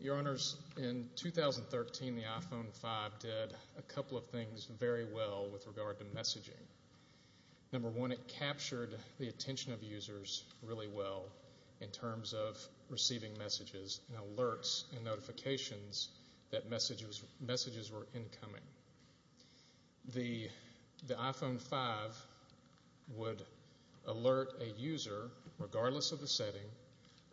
Your Honors, in 2013 the iPhone 5 did a couple of things very well with regard to messaging. Number one, it captured the attention of users really well in terms of receiving messages and alerts and notifications that messages were incoming. The iPhone 5 would alert a user regardless of the setting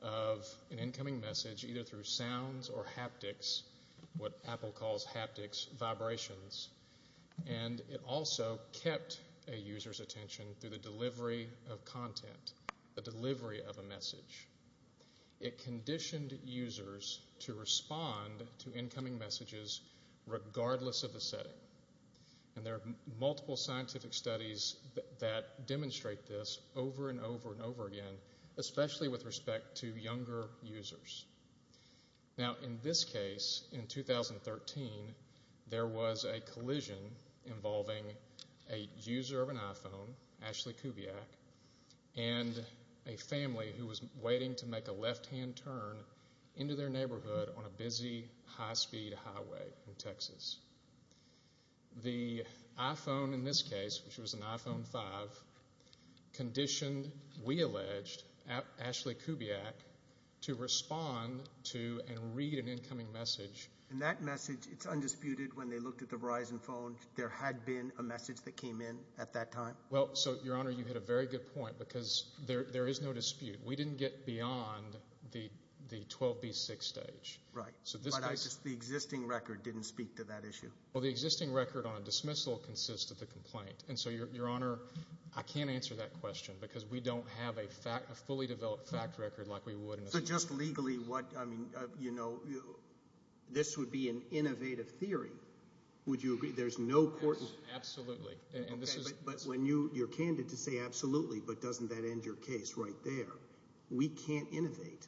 of an incoming message either through sounds or haptics, what Apple calls haptics, vibrations, and it also kept a user's attention through the delivery of content, the delivery of a message. It conditioned users to respond to incoming messages regardless of the setting. And there are multiple scientific studies that demonstrate this over and over and over again, especially with respect to younger users. Now, in this case, in 2013, there was a collision involving a user of an iPhone, Ashley Kubiak, and a family who was waiting to make a left-hand turn into their neighborhood on a busy high-speed highway in Texas. The iPhone, in this case, which was an iPhone 5, conditioned, we alleged, Ashley Kubiak to respond to and read an incoming message. And that message, it's undisputed, when they looked at the Verizon phone, there had been a message that came in at that time? Well, so, Your Honor, you hit a very good point because there is no dispute. We didn't get beyond the 12B6 stage. Right, but the existing record didn't speak to that issue. Well, the existing record on a dismissal consists of the complaint. And so, Your Honor, I can't answer that question because we don't have a fully developed fact record like we would in a... So, just legally, what, I mean, you know, this would be an innovative theory. Would you agree there's no court... Absolutely, and this is... Okay, but when you're candid to say absolutely, but doesn't that end your case right there? We can't innovate.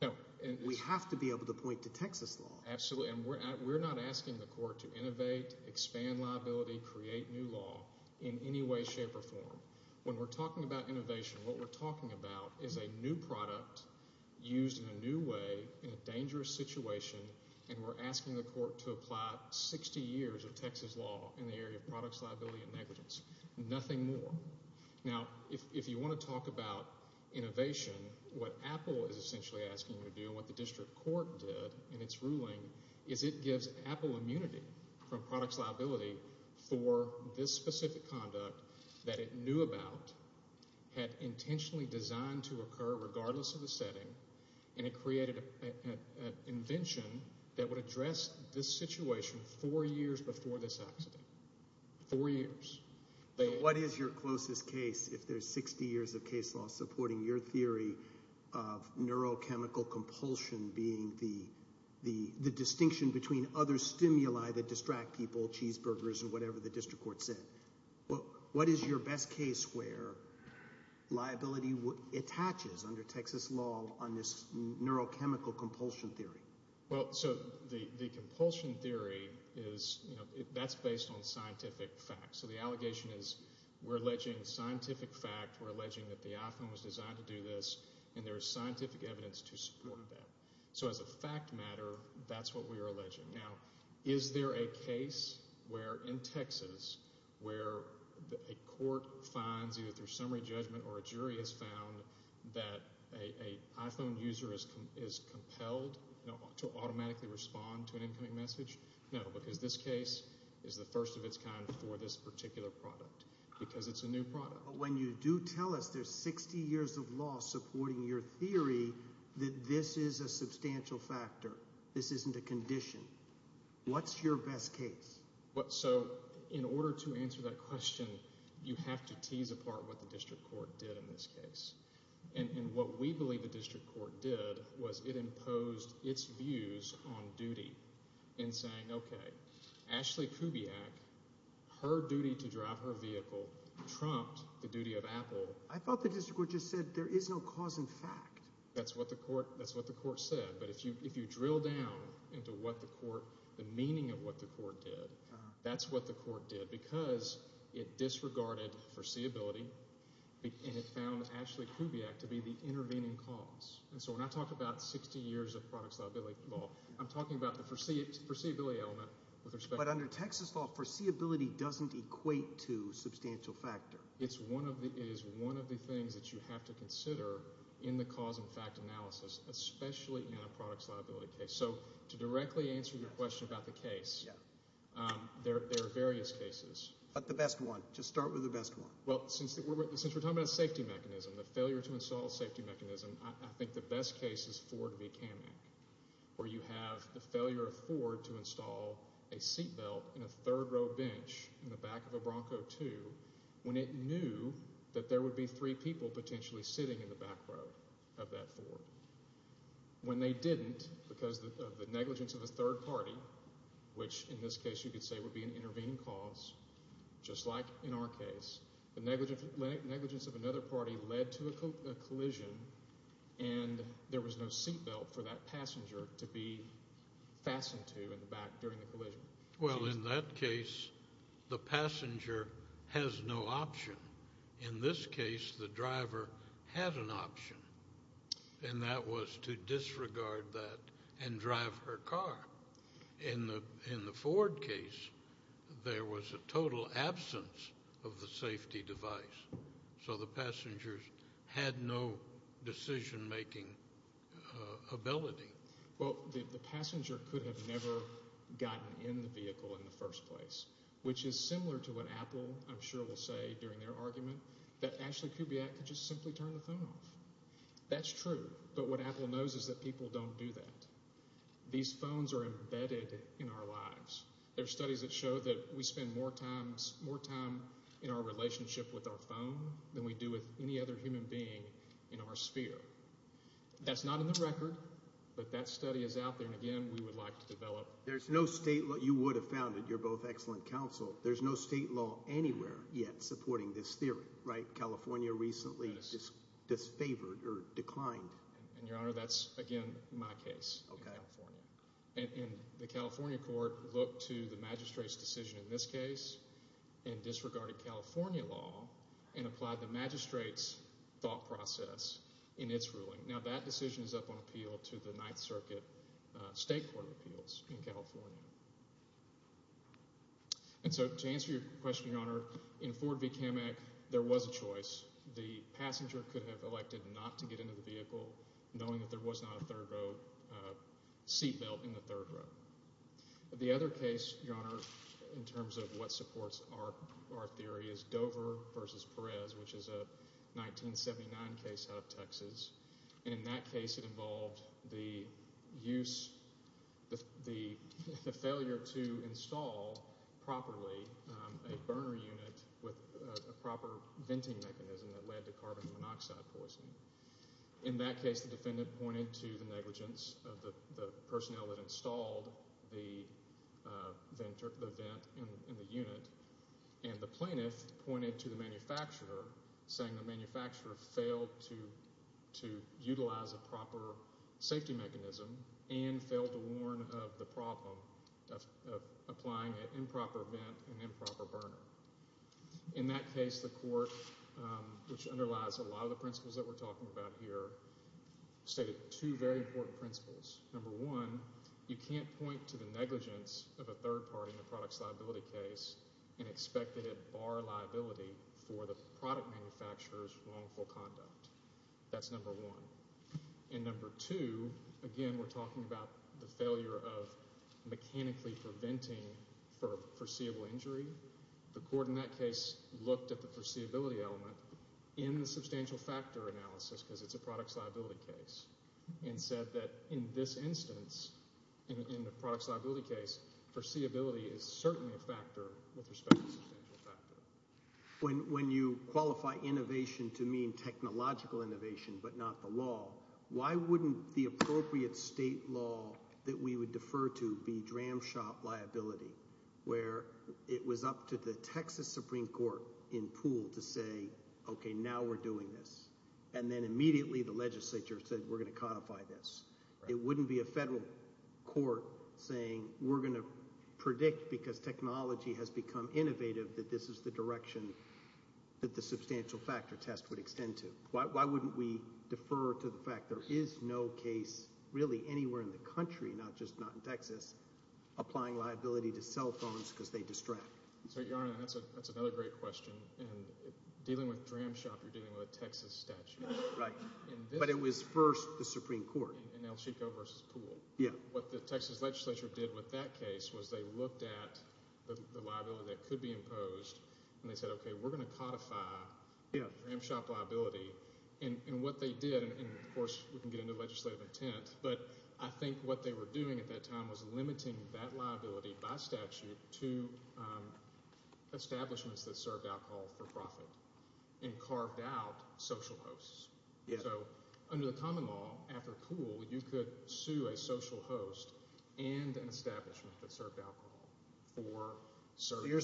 No, and... We have to be able to point to Texas law. Absolutely, and we're not asking the court to innovate, expand liability, create new law in any way, shape, or form. When we're talking about innovation, what we're talking about is a new product used in a new way in a dangerous situation, and we're asking the court to apply 60 years of Texas law in the area of products, liability, and negligence, nothing more. Now, if you want to talk about innovation, what Apple is essentially asking you to do, and what the district court did in its ruling, is it gives Apple immunity from products liability for this specific conduct that it knew about, had intentionally designed to occur regardless of the setting, and it created an invention that would address this situation four years before this accident. Four years. What is your closest case if there's 60 years of case law supporting your theory of neurochemical compulsion being the distinction between other stimuli that distract people, cheeseburgers, and whatever the district court said? What is your best case where liability attaches under Texas law on this neurochemical compulsion theory? Well, so the compulsion theory is, you know, that's based on scientific facts. So the allegation is we're alleging scientific fact, we're alleging that the iPhone was designed to do this, and there's scientific evidence to support that. So as a fact matter, that's what we are alleging. Now, is there a case where, in Texas, where a court finds either through summary judgment or a jury has found that a iPhone user is compelled to automatically respond to an incoming message? No, because this case is the first of its kind for this particular product, because it's a new product. But when you do tell us there's 60 years of law supporting your theory that this is a substantial factor, this isn't a condition, what's your best case? So in order to answer that question, you have to tease apart what the district court did in this case. And what we believe the district court did was it imposed its views on duty in saying, okay, Ashley Kubiak, her duty to drive her vehicle trumped the duty of Apple. I thought the district court just said there is no cause in fact. That's what the court said. But if you drill down into what the court, the meaning of what the court did, that's what the court did. Because it disregarded foreseeability and it found Ashley Kubiak to be the intervening cause. And so when I talk about 60 years of products liability law, I'm talking about the foreseeability element with respect to that. But under Texas law, foreseeability doesn't equate to substantial factor. It is one of the things that you have to consider in the cause and fact analysis, especially in a products liability case. So to directly answer your question about the case, there are various cases. But the best one, just start with the best one. Well, since we're talking about safety mechanism, the failure to install a safety mechanism, I think the best case is Ford v. Kamek. Where you have the failure of Ford to install a seat belt in a third row bench in the back of a Bronco II, when it knew that there would be three people potentially sitting in the back row of that Ford. When they didn't, because of the negligence of a third party, which in this case you could say would be an intervening cause, just like in our case, the negligence of another party led to a collision and there was no seat belt for that passenger to be fastened to in the back during the collision. Well, in that case, the passenger has no option. In this case, the driver had an option. And that was to disregard that and drive her car. In the Ford case, there was a total absence of the safety device. So the passengers had no decision-making ability. Well, the passenger could have never gotten in the vehicle in the first place, which is similar to what Apple, I'm sure, will say during their argument that Ashley Kubiak could just simply turn the phone off. That's true, but what Apple knows is that people don't do that. These phones are embedded in our lives. There are studies that show that we spend more time in our relationship with our phone than we do with any other human being in our sphere. That's not in the record, but that study is out there, and again, we would like to develop. There's no state law. You would have found it. You're both excellent counsel. There's no state law anywhere yet supporting this theory, right? California recently disfavored or declined. And, Your Honor, that's, again, my case in California. And the California court looked to the magistrate's decision in this case and disregarded California law and applied the magistrate's thought process in its ruling. Now, that decision is up on appeal to the Ninth Circuit State Court of Appeals in California. And so, to answer your question, Your Honor, in Ford v. Kamek, there was a choice. The passenger could have elected not to get into the vehicle, knowing that there was not a third row seatbelt in the third row. The other case, Your Honor, in terms of what supports our theory is Dover v. Perez, which is a 1979 case out of Texas. And in that case, it involved the use, the failure to install properly a burner unit with a proper venting mechanism that led to carbon monoxide poisoning. In that case, the defendant pointed to the negligence of the personnel that installed the vent in the unit, and the plaintiff pointed to the manufacturer, saying the manufacturer failed to utilize a proper safety mechanism and failed to warn of the problem of applying an improper vent and improper burner. In that case, the court, which underlies a lot of the principles that we're talking about here, stated two very important principles. Number one, you can't point to the negligence of a third party in a products liability case and expect that it bar liability for the product manufacturer's wrongful conduct. That's number one. And number two, again, we're talking about the failure of mechanically preventing for foreseeable injury. The court in that case looked at the foreseeability element in the substantial factor analysis, because it's a products liability case, and said that in this instance, in the products liability case, foreseeability is certainly a factor with respect to substantial factor. When you qualify innovation to mean technological innovation but not the law, why wouldn't the appropriate state law that we would defer to be DRAM shop liability, where it was up to the Texas Supreme Court in Poole to say, okay, now we're doing this, and then immediately the legislature said, we're going to codify this. It wouldn't be a federal court saying, we're going to predict, because technology has become innovative, that this is the direction that the substantial factor test would extend to. Why wouldn't we defer to the fact there is no case really anywhere in the country, not just not in Texas, applying liability to cell phones because they distract. So, Your Honor, that's another great question. And dealing with DRAM shop, you're dealing with a Texas statute. Right. But it was first the Supreme Court. In El Chico versus Poole. Yeah. What the Texas legislature did with that case was they looked at the liability that could be imposed, and they said, okay, we're going to codify DRAM shop liability. And what they did, and of course, we can get into legislative intent, but I think what they were doing at that time was limiting that liability by statute to establishments that served alcohol for profit and carved out social hosts. Yeah. Under the common law, after Poole, you could sue a social host and an establishment that served alcohol for service. Your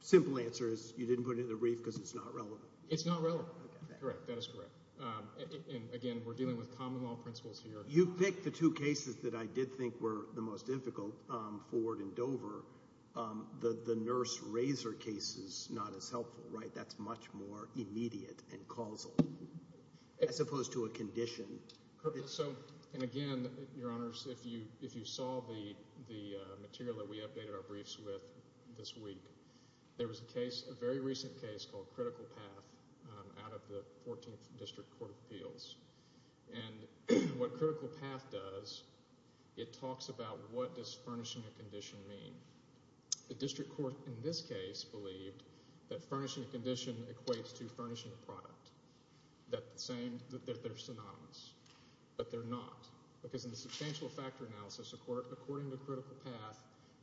simple answer is you didn't put it in the brief because it's not relevant. It's not relevant. Correct. That is correct. Again, we're dealing with common law principles here. You picked the two cases that I did think were the most difficult, Ford and Dover. The nurse razor case is not as helpful, right? That's much more immediate and causal. As opposed to a condition. And again, Your Honors, if you saw the material that we updated our briefs with this week, there was a case, a very recent case called Critical Path out of the 14th District Court of Appeals. And what Critical Path does, it talks about what does furnishing a condition mean? The district court in this case believed that furnishing a condition equates to furnishing a product. That they're synonymous. But they're not. Because in the substantial factor analysis, according to Critical Path,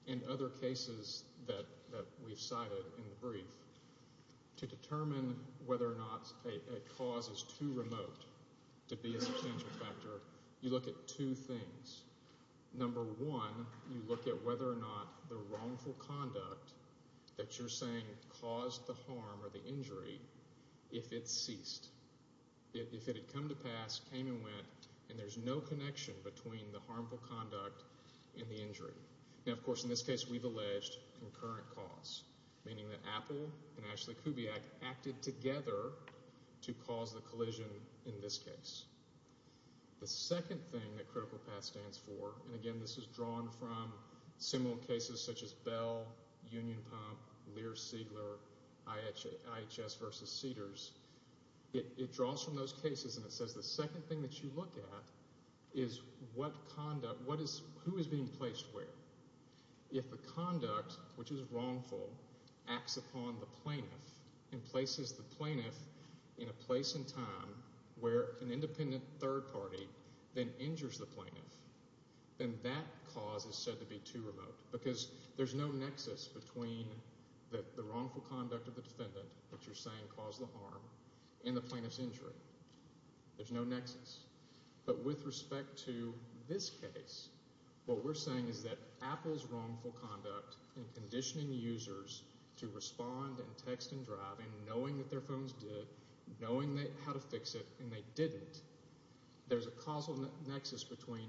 and other cases that we've cited in the brief, to determine whether or not a cause is too remote to be a substantial factor, you look at two things. Number one, you look at whether or not the wrongful conduct that you're saying caused the harm or the injury, if it ceased. If it had come to pass, came and went, and there's no connection between the harmful conduct and the injury. Now, of course, in this case, we've alleged concurrent cause. Meaning that Apple and Ashley Kubiak acted together to cause the collision in this case. The second thing that Critical Path stands for, and again, this is drawn from similar cases such as Bell, Union Pump, Lear-Siegler, IHS versus Cedars. It draws from those cases, and it says the second thing that you look at is what conduct, what is, who is being placed where. If the conduct, which is wrongful, acts upon the plaintiff, and places the plaintiff in a place and time where an independent third party then injures the plaintiff, then that cause is said to be too remote. Because there's no nexus between the wrongful conduct of the defendant, which you're saying caused the harm, and the plaintiff's injury. There's no nexus. But with respect to this case, what we're saying is that Apple's wrongful conduct in conditioning users to respond and text and drive, and knowing that their phones did, knowing how to fix it, and they didn't. There's a causal nexus between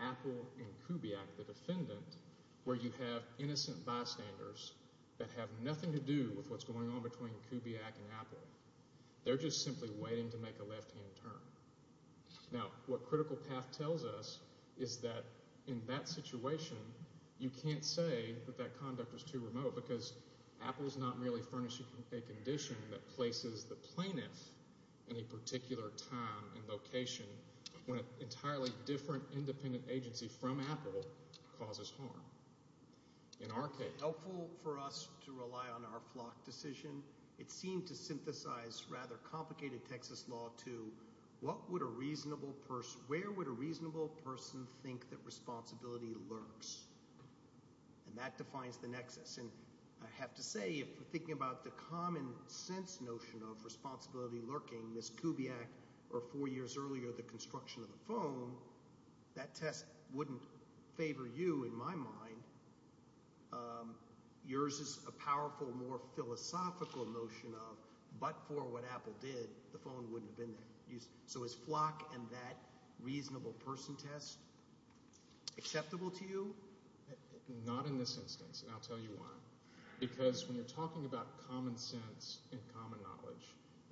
Apple and Kubiak, the defendant, where you have innocent bystanders that have nothing to do with what's going on between Kubiak and Apple. They're just simply waiting to make a left-hand turn. Now, what Critical Path tells us is that in that situation, you can't say that that conduct was too remote because Apple's not merely furnishing a condition that places the plaintiff in a particular time and location when an entirely different independent agency from Apple causes harm. In our case... Helpful for us to rely on our flock decision. It seemed to synthesize rather complicated Texas law to where would a reasonable person think that responsibility lurks? And that defines the nexus. I have to say, if we're thinking about the common sense notion of responsibility lurking, this Kubiak, or four years earlier, the construction of the phone, that test wouldn't favor you, in my mind. Yours is a powerful, more philosophical notion of, but for what Apple did, the phone wouldn't have been used. So is flock and that reasonable person test acceptable to you? Not in this instance, and I'll tell you why. Because when you're talking about common sense and common knowledge,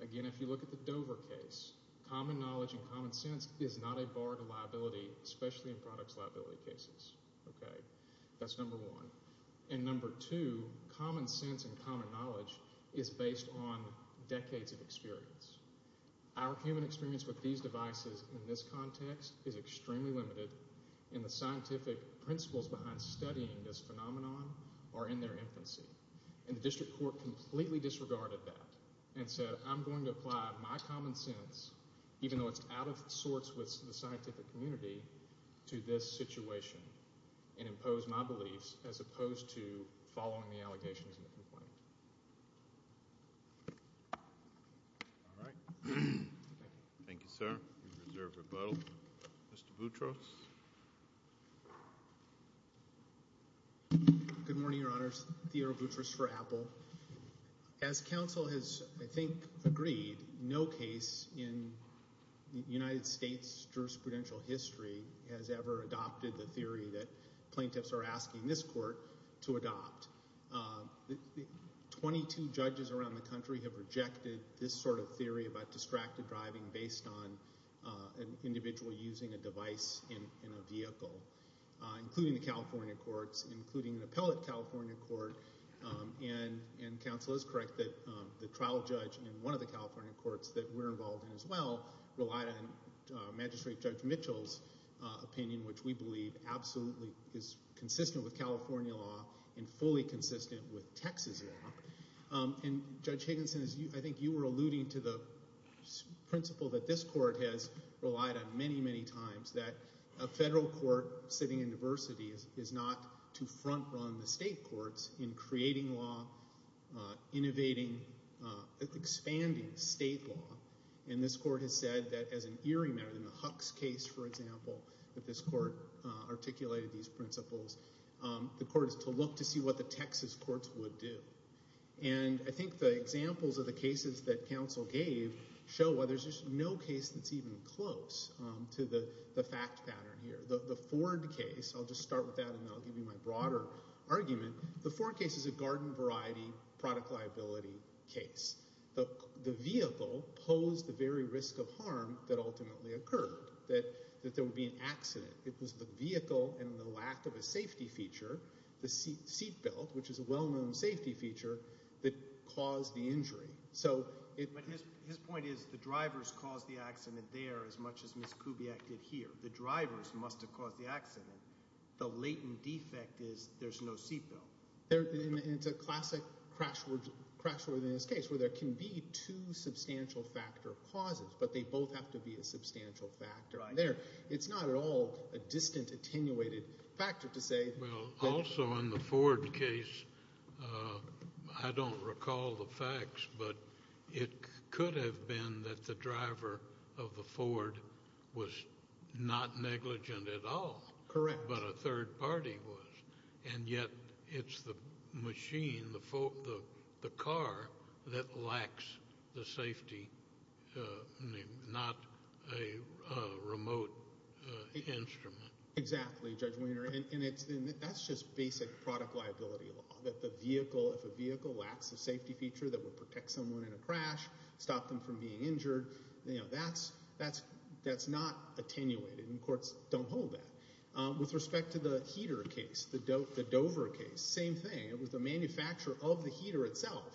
again, if you look at the Dover case, common knowledge and common sense is not a bar to liability, especially in products liability cases, okay? That's number one. And number two, common sense and common knowledge is based on decades of experience. Our human experience with these devices in this context is extremely limited in the scientific principles behind studying this phenomenon, or in their infancy. And the district court completely disregarded that, and said, I'm going to apply my common sense, even though it's out of sorts with the scientific community, to this situation, and impose my beliefs, as opposed to following the allegations in the complaint. All right. Thank you, sir. We reserve rebuttal. Mr. Boutros. Good morning, Your Honors. Theodore Boutros for Apple. As counsel has, I think, agreed, no case in United States jurisprudential history has ever adopted the theory that plaintiffs are asking this court to adopt. Twenty-two judges around the country have rejected this sort of theory about distracted driving based on an individual using a device in a vehicle, including the California courts, including an appellate California court. And counsel is correct that the trial judge in one of the California courts that we're involved in as well, relied on Magistrate Judge Mitchell's opinion, which we believe absolutely is consistent with California law, and fully consistent with Texas law. And Judge Higginson, I think you were alluding to the principle that this court has relied on many, many times, that a federal court sitting in diversity is not to front-run the state courts in creating law, innovating, expanding state law. And this court has said that as an earring matter, in the Huck's case, for example, that this court articulated these principles, the court is to look to see what the Texas courts would do. And I think the examples of the cases that counsel gave show why there's just no case that's even close to the fact pattern here. The Ford case, I'll just start with that, and then I'll give you my broader argument. The Ford case is a garden variety product liability case. The vehicle posed the very risk of harm that ultimately occurred, that there would be an accident. It was the vehicle and the lack of a safety feature, the seat belt, which is a well-known safety feature, that caused the injury. So it... But his point is the drivers caused the accident there as much as Ms. Kubiak did here. The drivers must have caused the accident. The latent defect is there's no seat belt. And it's a classic crash within this case where there can be two substantial factor causes, but they both have to be a substantial factor. It's not at all a distant attenuated factor to say... Well, also in the Ford case, I don't recall the facts, but it could have been that the driver of the Ford was not negligent at all. Correct. But a third party was. And yet it's the machine, the car, that lacks the safety, not a remote instrument. Exactly, Judge Wiener. That's just basic product liability law, that the vehicle, if a vehicle lacks a safety feature that would protect someone in a crash, stop them from being injured, that's not attenuated. And courts don't hold that. With respect to the heater case, the Dover case, same thing. It was the manufacturer of the heater itself,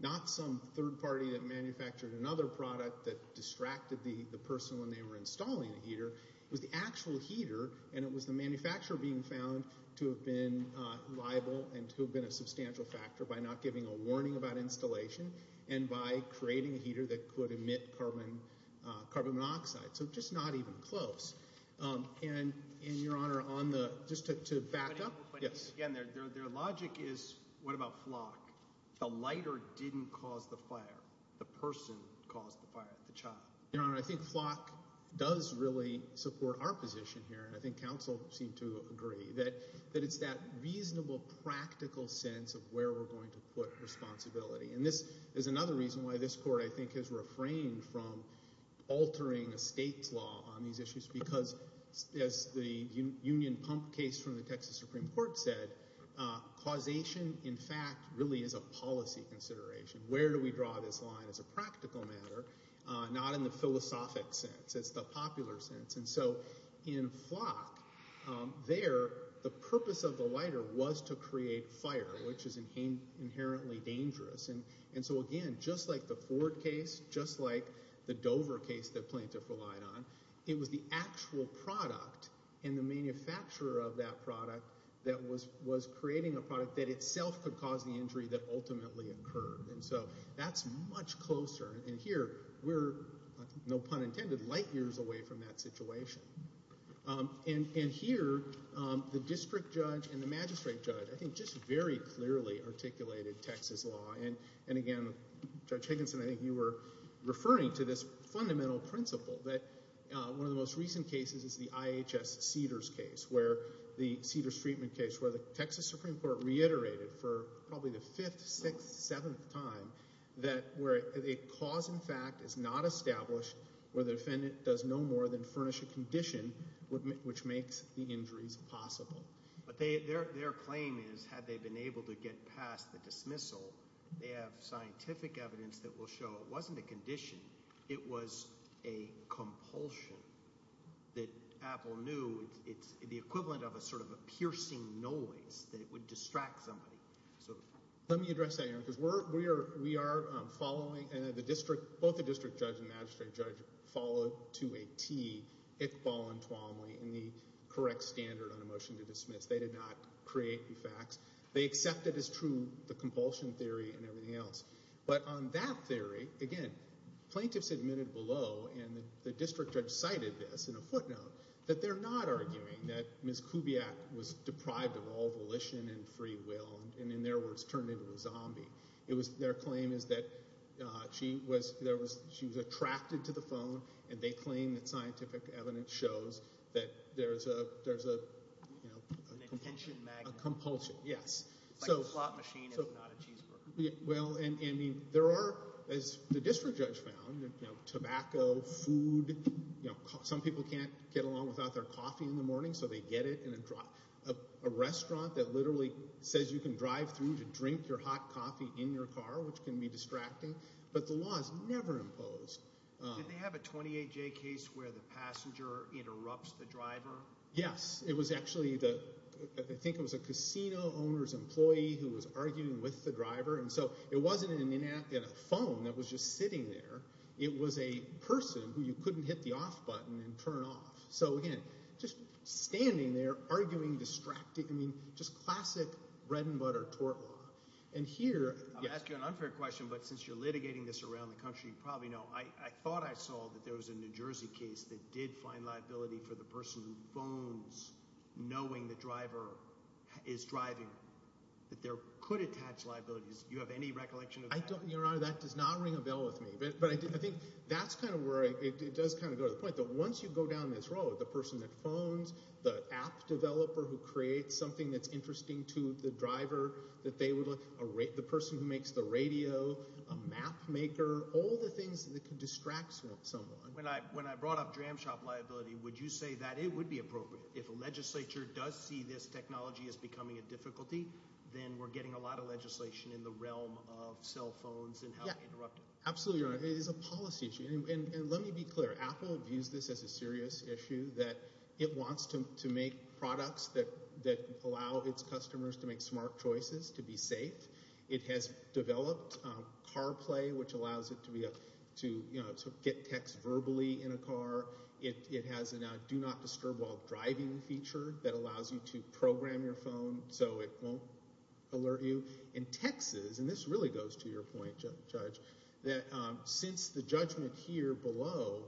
not some third party that manufactured another product that distracted the person when they were installing the heater. It was the actual heater, and it was the manufacturer being found to have been liable and to have been a substantial factor by not giving a warning about installation and by creating a heater that could emit carbon monoxide. So just not even close. And, Your Honor, on the, just to back up. Yes. Again, their logic is, what about Flock? The lighter didn't cause the fire. The person caused the fire, the child. Your Honor, I think Flock does really support our position here, and I think counsel seem to agree, that it's that reasonable, practical sense of where we're going to put responsibility. And this is another reason why this court, I think, has refrained from altering a state's law on these issues because, as the Union Pump case from the Texas Supreme Court said, causation, in fact, really is a policy consideration. Where do we draw this line? It's a practical matter, not in the philosophic sense. It's the popular sense. And so in Flock, there, the purpose of the lighter was to create fire, which is inherently dangerous. And so, again, just like the Ford case, just like the Dover case that Plaintiff relied on, it was the actual product and the manufacturer of that product that was creating a product that itself could cause the injury that ultimately occurred. And so that's much closer. And here, we're, no pun intended, light years away from that situation. And here, the district judge and the magistrate judge, I think, just very clearly articulated Texas law. And again, Judge Higginson, I think you were referring to this fundamental principle that one of the most recent cases is the IHS Cedars case, where the Cedars treatment case, where the Texas Supreme Court reiterated for probably the fifth, sixth, seventh time that where a cause, in fact, is not established where the defendant does no more than furnish a condition which makes the injuries possible. But their claim is, had they been able to get past the dismissal, they have scientific evidence that will show it wasn't a condition, it was a compulsion that Apple knew. It's the equivalent of a sort of a piercing noise that it would distract somebody. Let me address that, Aaron, because we are following, and the district, both the district judge and magistrate judge followed to a T, Hick, Ball, and Twomley in the correct standard on a motion to dismiss. They did not create the facts. They accepted as true the compulsion theory and everything else. But on that theory, again, plaintiffs admitted below, and the district judge cited this in a footnote, that they're not arguing that Ms. Kubiak was deprived of all volition and free will, and in their words, turned into a zombie. Their claim is that she was attracted to the phone, and they claim that scientific evidence shows that there's a compulsion, yes. It's like a slot machine if not a cheeseburger. Well, and there are, as the district judge found, tobacco, food, some people can't get along without their coffee in the morning, so they get it in a restaurant that literally says you can drive through to drink your hot coffee in your car, which can be distracting, but the law is never imposed. Did they have a 28-J case where the passenger interrupts the driver? Yes, it was actually the, I think it was a casino owner's employee who was arguing with the driver, and so it wasn't a phone that was just sitting there. It was a person who you couldn't hit the off button and turn off. So again, just standing there, arguing, distracting, I mean, just classic bread and butter tort law. And here- I'll ask you an unfair question, but since you're litigating this around the country, you probably know, I thought I saw that there was a New Jersey case that did find liability for the person who phones knowing the driver is driving, that there could attach liabilities. Do you have any recollection of that? I don't, Your Honor, that does not ring a bell with me, but I think that's kind of where it does kind of go to the point that once you go down this road, the person that phones, the app developer who creates something that's interesting to the driver, that they would like, the person who makes the radio, a map maker, all the things that could distract someone. When I brought up jam shop liability, would you say that it would be appropriate if a legislature does see this technology as becoming a difficulty, then we're getting a lot of legislation in the realm of cell phones and how to interrupt it? Absolutely, Your Honor, it is a policy issue. And let me be clear, Apple views this as a serious issue that it wants to make products that allow its customers to make smart choices, to be safe. It has developed CarPlay, which allows it to get text verbally in a car. It has a do not disturb while driving feature that allows you to program your phone so it won't alert you. In Texas, and this really goes to your point, Judge, that since the judgment here below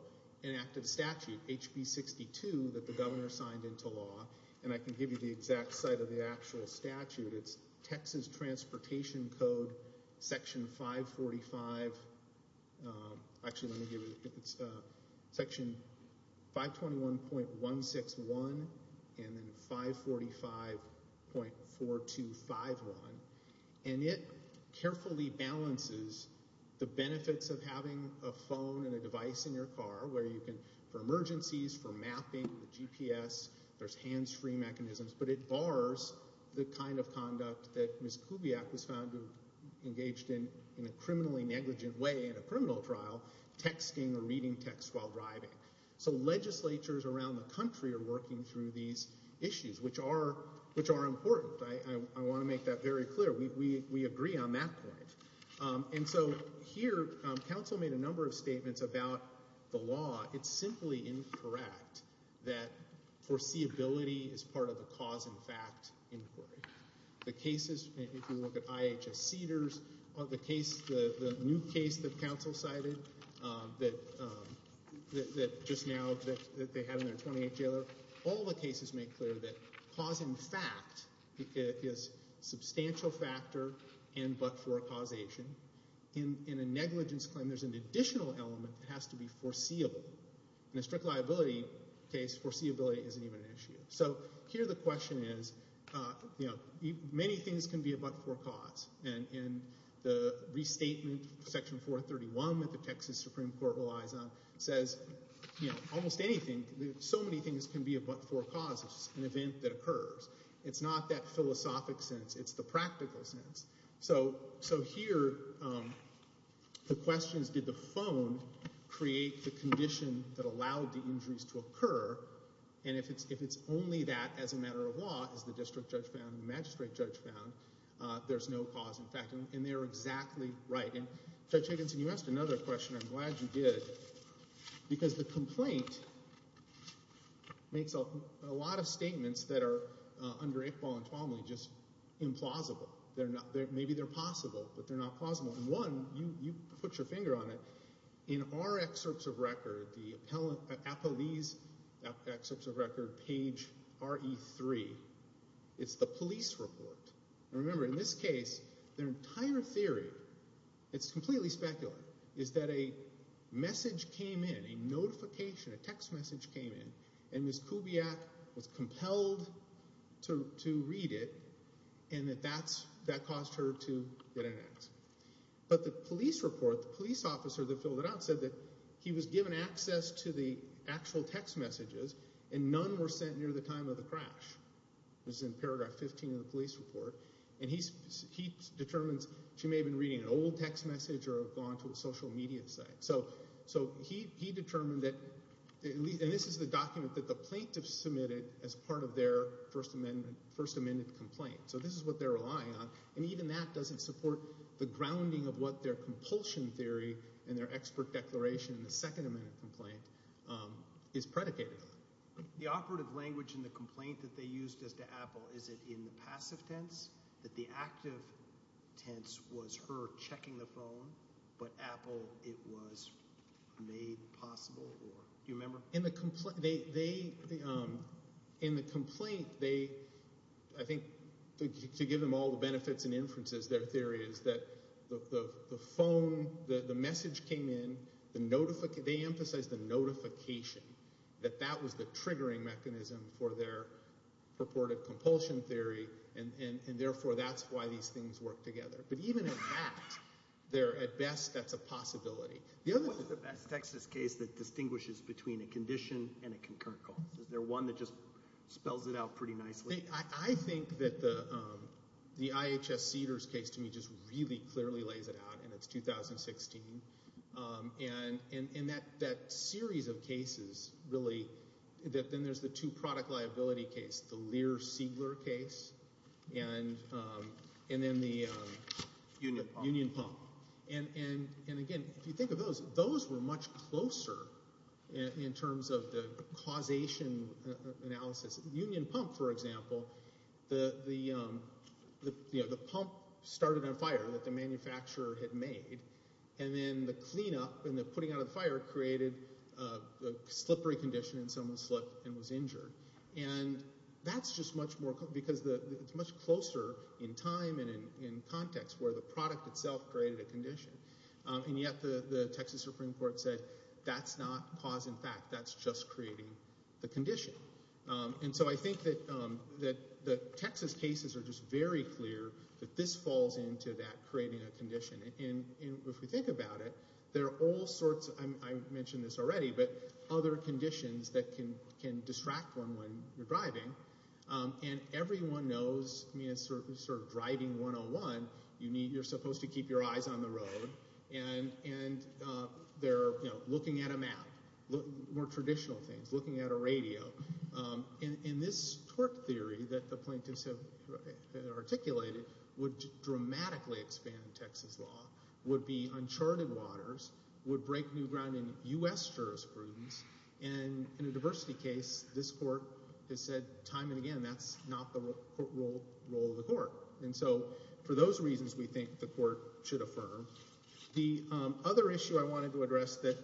an active statute, HB 62, that the governor signed into law, and I can give you the exact site of the actual statute, it's Texas Transportation Code, Section 545, actually, let me give it a bit, it's Section 521.161 and then 545.4251. And it carefully balances the benefits of having a phone and a device in your car where you can, for emergencies, for mapping, the GPS, there's hands-free mechanisms, but it bars the kind of conduct that Ms. Kubiak was found to engaged in, in a criminally negligent way in a criminal trial, texting or reading text while driving. So legislatures around the country are working through these issues, which are important. I want to make that very clear. We agree on that point. And so here, counsel made a number of statements about the law. It's simply incorrect that foreseeability is part of the cause and fact inquiry. The cases, if you look at IHS Cedars, the case, the new case that counsel cited that just now, that they had in their 28 jailer, all the cases make clear that cause and fact is a substantial factor and but for a causation. In a negligence claim, there's an additional element that has to be foreseeable. In a strict liability case, foreseeability isn't even an issue. So here the question is, you know, many things can be a but for a cause. And the restatement, Section 431 that the Texas Supreme Court relies on says, you know, almost anything, so many things can be a but for a cause. It's just an event that occurs. It's not that philosophic sense. It's the practical sense. So here, the question is, did the phone create the condition that allowed the injuries to occur? And if it's only that as a matter of law, as the district judge found, the magistrate judge found, there's no cause in fact. And they're exactly right. And Judge Higginson, you asked another question. I'm glad you did. Because the complaint makes a lot of statements that are under equal and formally just implausible. They're not, maybe they're possible, but they're not plausible. And one, you put your finger on it. In our excerpts of record, the appellee's excerpts of record, page RE3, it's the police report. And remember, in this case, their entire theory, it's completely speculative, is that a message came in, a notification, a text message came in, and Ms. Kubiak was compelled to read it, and that that's, that caused her to get an ax. But the police report, the police officer that filled it out, said that he was given access to the actual text messages and none were sent near the time of the crash. This is in paragraph 15 of the police report. And he determines she may have been reading an old text message or gone to a social media site. So he determined that, and this is the document that the plaintiff submitted as part of their First Amendment, First Amendment complaint. So this is what they're relying on. And even that doesn't support the grounding of what their compulsion theory and their expert declaration in the Second Amendment complaint is predicated on. The operative language in the complaint that they used as to Apple, is it in the passive tense that the active tense was her checking the phone, but Apple, it was made possible? Or do you remember? In the complaint, they, in the complaint, they, I think, to give them all the benefits and inferences, their theory is that the phone, the message came in, the notification, they emphasized the notification, that that was the triggering mechanism for their purported compulsion theory. And therefore, that's why these things work together. But even in that, they're at best, that's a possibility. The other- What is the best Texas case that distinguishes between a condition and a concurrent cause? Is there one that just spells it out pretty nicely? I think that the IHS Cedars case, to me, just really clearly lays it out, and it's 2016. And that series of cases, really, then there's the two product liability case, the Lear-Siegler case, and then the- Union Pump. Union Pump. And again, if you think of those, those were much closer in terms of the causation analysis. Union Pump, for example, the pump started on fire that the manufacturer had made, and then the cleanup and the putting out of the fire created a slippery condition, and someone slipped and was injured. And that's just much more- because it's much closer in time and in context where the product itself created a condition. And yet, the Texas Supreme Court said, that's not cause and fact, that's just creating the condition. And so I think that the Texas cases are just very clear that this falls into that creating a condition. And if we think about it, there are all sorts- I mentioned this already, but other conditions that can distract one when you're driving. And everyone knows, I mean, it's sort of driving 101, you're supposed to keep your eyes on the road, and they're looking at a map, more traditional things, looking at a radio. And this torque theory that the plaintiffs have articulated would dramatically expand Texas law, would be uncharted waters, would break new ground in U.S. jurisprudence. And in a diversity case, this court has said time and again, that's not the role of the court. And so for those reasons, we think the court should affirm. The other issue I wanted to address that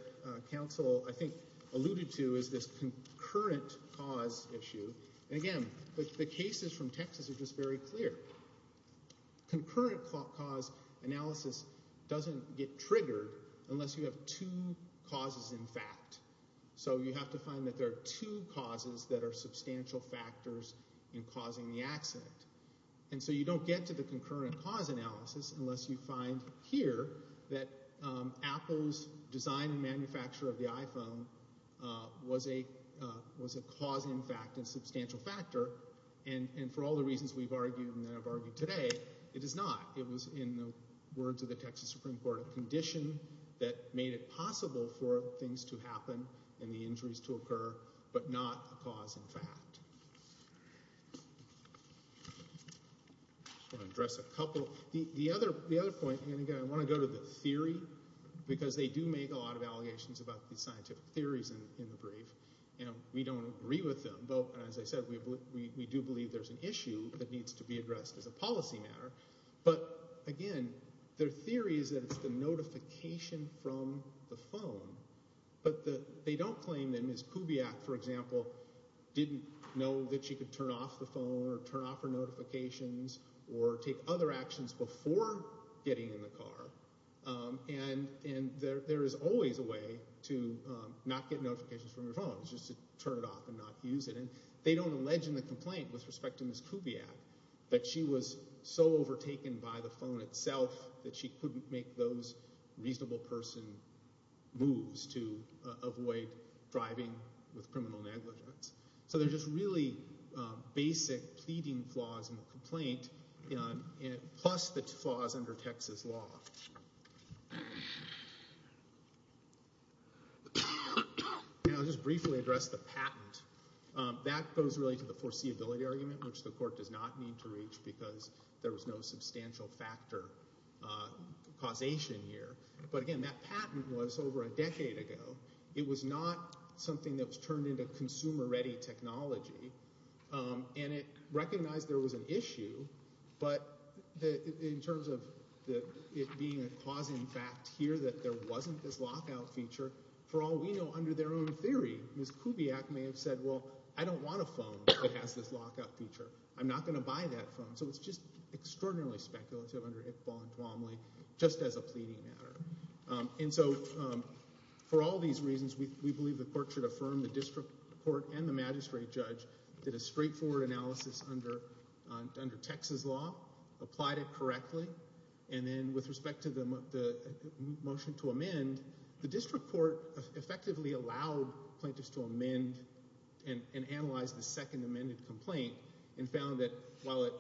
counsel, I think, alluded to is this concurrent cause issue. And again, the cases from Texas are just very clear. Concurrent cause analysis doesn't get triggered unless you have two causes in fact. So you have to find that there are two causes that are substantial factors in causing the accident. And so you don't get to the concurrent cause analysis unless you find here that Apple's design and manufacturer of the iPhone was a cause in fact and substantial factor. And for all the reasons we've argued and that I've argued today, it is not. It was in the words of the Texas Supreme Court, a condition that made it possible for things to happen and the injuries to occur, but not a cause in fact. I just want to address a couple. The other point, and again, I want to go to the theory because they do make a lot of allegations about the scientific theories in the brief. And we don't agree with them. But as I said, we do believe there's an issue that needs to be addressed as a policy matter. But again, their theory is that it's the notification from the phone. But they don't claim that Ms. Kubiak, for example, didn't know that she could turn off the phone or turn off her notifications or take other actions before getting in the car. And there is always a way to not get notifications from your phone. It's just to turn it off and not use it. And they don't allege in the complaint with respect to Ms. Kubiak that she was so overtaken by the phone itself that she couldn't make those reasonable person moves to avoid driving with criminal negligence. So they're just really basic pleading flaws in the complaint, plus the flaws under Texas law. And I'll just briefly address the patent. That goes really to the foreseeability argument, which the court does not need to reach because there was no substantial factor causation here. But again, that patent was over a decade ago. It was not something that was turned into consumer-ready technology. And it recognized there was an issue. But in terms of it being a causing fact here that there wasn't this lockout feature, for all we know, under their own theory, Ms. Kubiak may have said, well, I don't want a phone. It has this lockout feature. I'm not going to buy that phone. So it's just extraordinarily speculative under Iqbal and Duomly, just as a pleading matter. And so for all these reasons, we believe the court should affirm the district court and the magistrate judge did a straightforward analysis under Texas law, And then with respect to the motion to amend, the district court effectively allowed plaintiffs to amend and analyze the second amended complaint and found that while it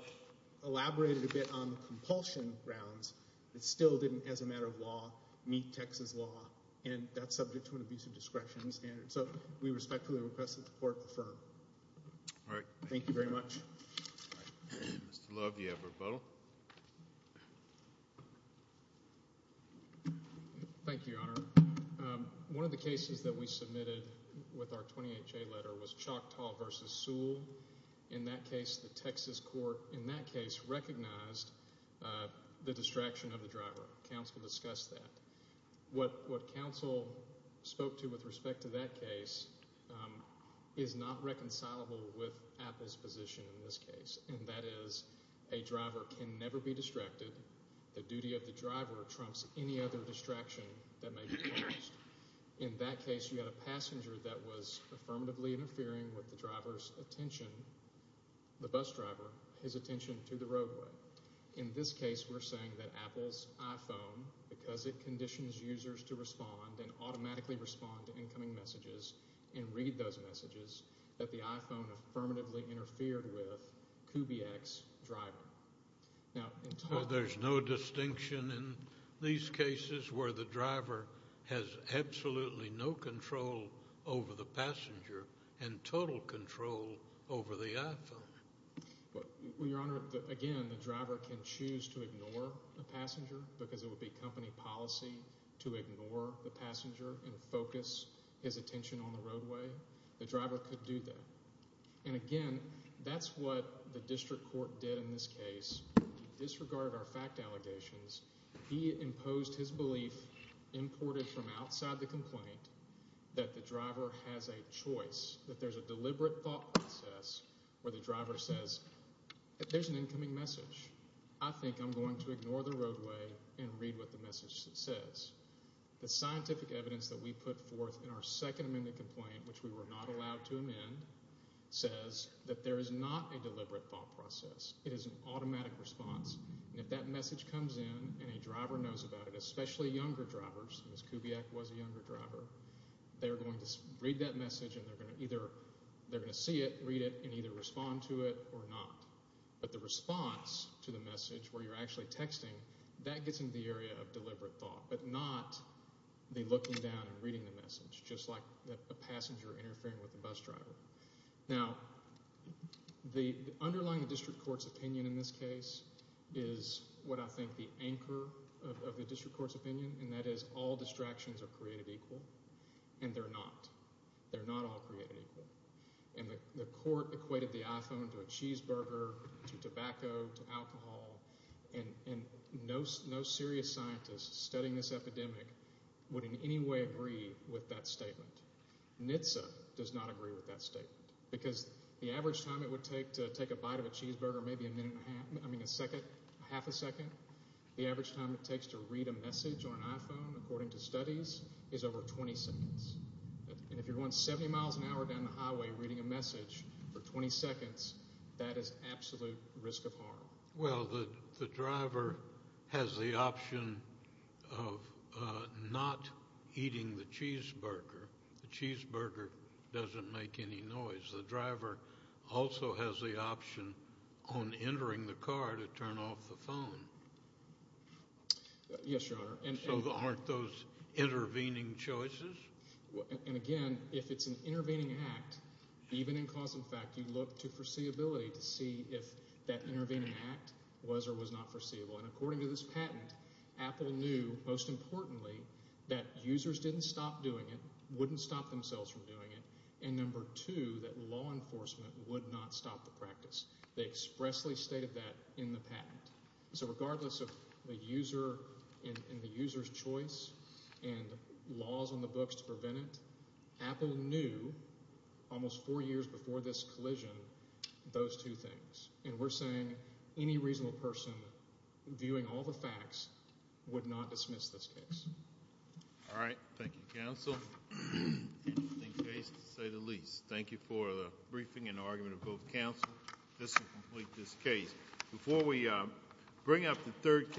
elaborated a bit on the compulsion grounds, it still didn't, as a matter of law, meet Texas law. And that's subject to an abusive discretion standard. So we respectfully request that the court affirm. All right. Thank you very much. Mr. Love, you have a rebuttal. Thank you, Your Honor. One of the cases that we submitted with our 28-J letter was Choctaw v. Sewell. In that case, the Texas court in that case recognized the distraction of the driver. Counsel discussed that. What counsel spoke to with respect to that case is not reconcilable with Apple's position in this case. And that is a driver can never be distracted. The duty of the driver trumps any other distraction that may be caused. In that case, you had a passenger that was affirmatively interfering with the driver's attention, the bus driver, his attention to the roadway. In this case, we're saying that Apple's iPhone, because it conditions users to respond and automatically respond to incoming messages and read those messages, that the iPhone affirmatively interfered with Kubiak's driver. Now, there's no distinction in these cases where the driver has absolutely no control over the passenger and total control over the iPhone. Well, Your Honor, again, the driver can choose to ignore the passenger because it would be company policy to ignore the passenger and focus his attention on the roadway. The driver could do that. And again, that's what the district court did in this case. He disregarded our fact allegations. He imposed his belief imported from outside the complaint that the driver has a choice, that there's a deliberate thought process where the driver says, there's an incoming message. I think I'm going to ignore the roadway and read what the message says. The scientific evidence that we put forth in our second amendment complaint, which we were not allowed to amend, says that there is not a deliberate thought process. It is an automatic response. And if that message comes in and a driver knows about it, especially younger drivers, Ms. Kubiak was a younger driver, they're going to read that message and they're going to either, they're going to see it, read it, and either respond to it or not. But the response to the message where you're actually texting, that gets into the area of deliberate thought, but not the looking down and reading the message, just like a passenger interfering with the bus driver. Now, the underlying district court's opinion in this case is what I think the anchor of the district court's opinion, and that is all distractions are created equal, and they're not. They're not all created equal. And the court equated the iPhone to a cheeseburger, to tobacco, to alcohol, and no serious scientist studying this epidemic would in any way agree with that statement. NHTSA does not agree with that statement because the average time it would take to take a bite of a cheeseburger, maybe a minute and a half, I mean a second, half a second, the average time it takes to read a message on an iPhone, according to studies, is over 20 seconds. And if you're going 70 miles an hour down the highway reading a message for 20 seconds, that is absolute risk of harm. Well, the driver has the option of not eating the cheeseburger. The cheeseburger doesn't make any noise. The driver also has the option on entering the car to turn off the phone. Yes, Your Honor. So aren't those intervening choices? And again, if it's an intervening act, even in cause and fact, you look to foreseeability to see if that intervening act was or was not foreseeable. And according to this patent, Apple knew, most importantly, that users didn't stop doing it, wouldn't stop themselves from doing it, and number two, that law enforcement would not stop the practice. They expressly stated that in the patent. So regardless of the user and the user's choice and laws on the books to prevent it, Apple knew almost four years before this collision those two things. And we're saying any reasonable person viewing all the facts would not dismiss this case. All right. Thank you, counsel. Interesting case, to say the least. Thank you for the briefing and argument of both counsel. This will complete this case. Before we bring up the third case.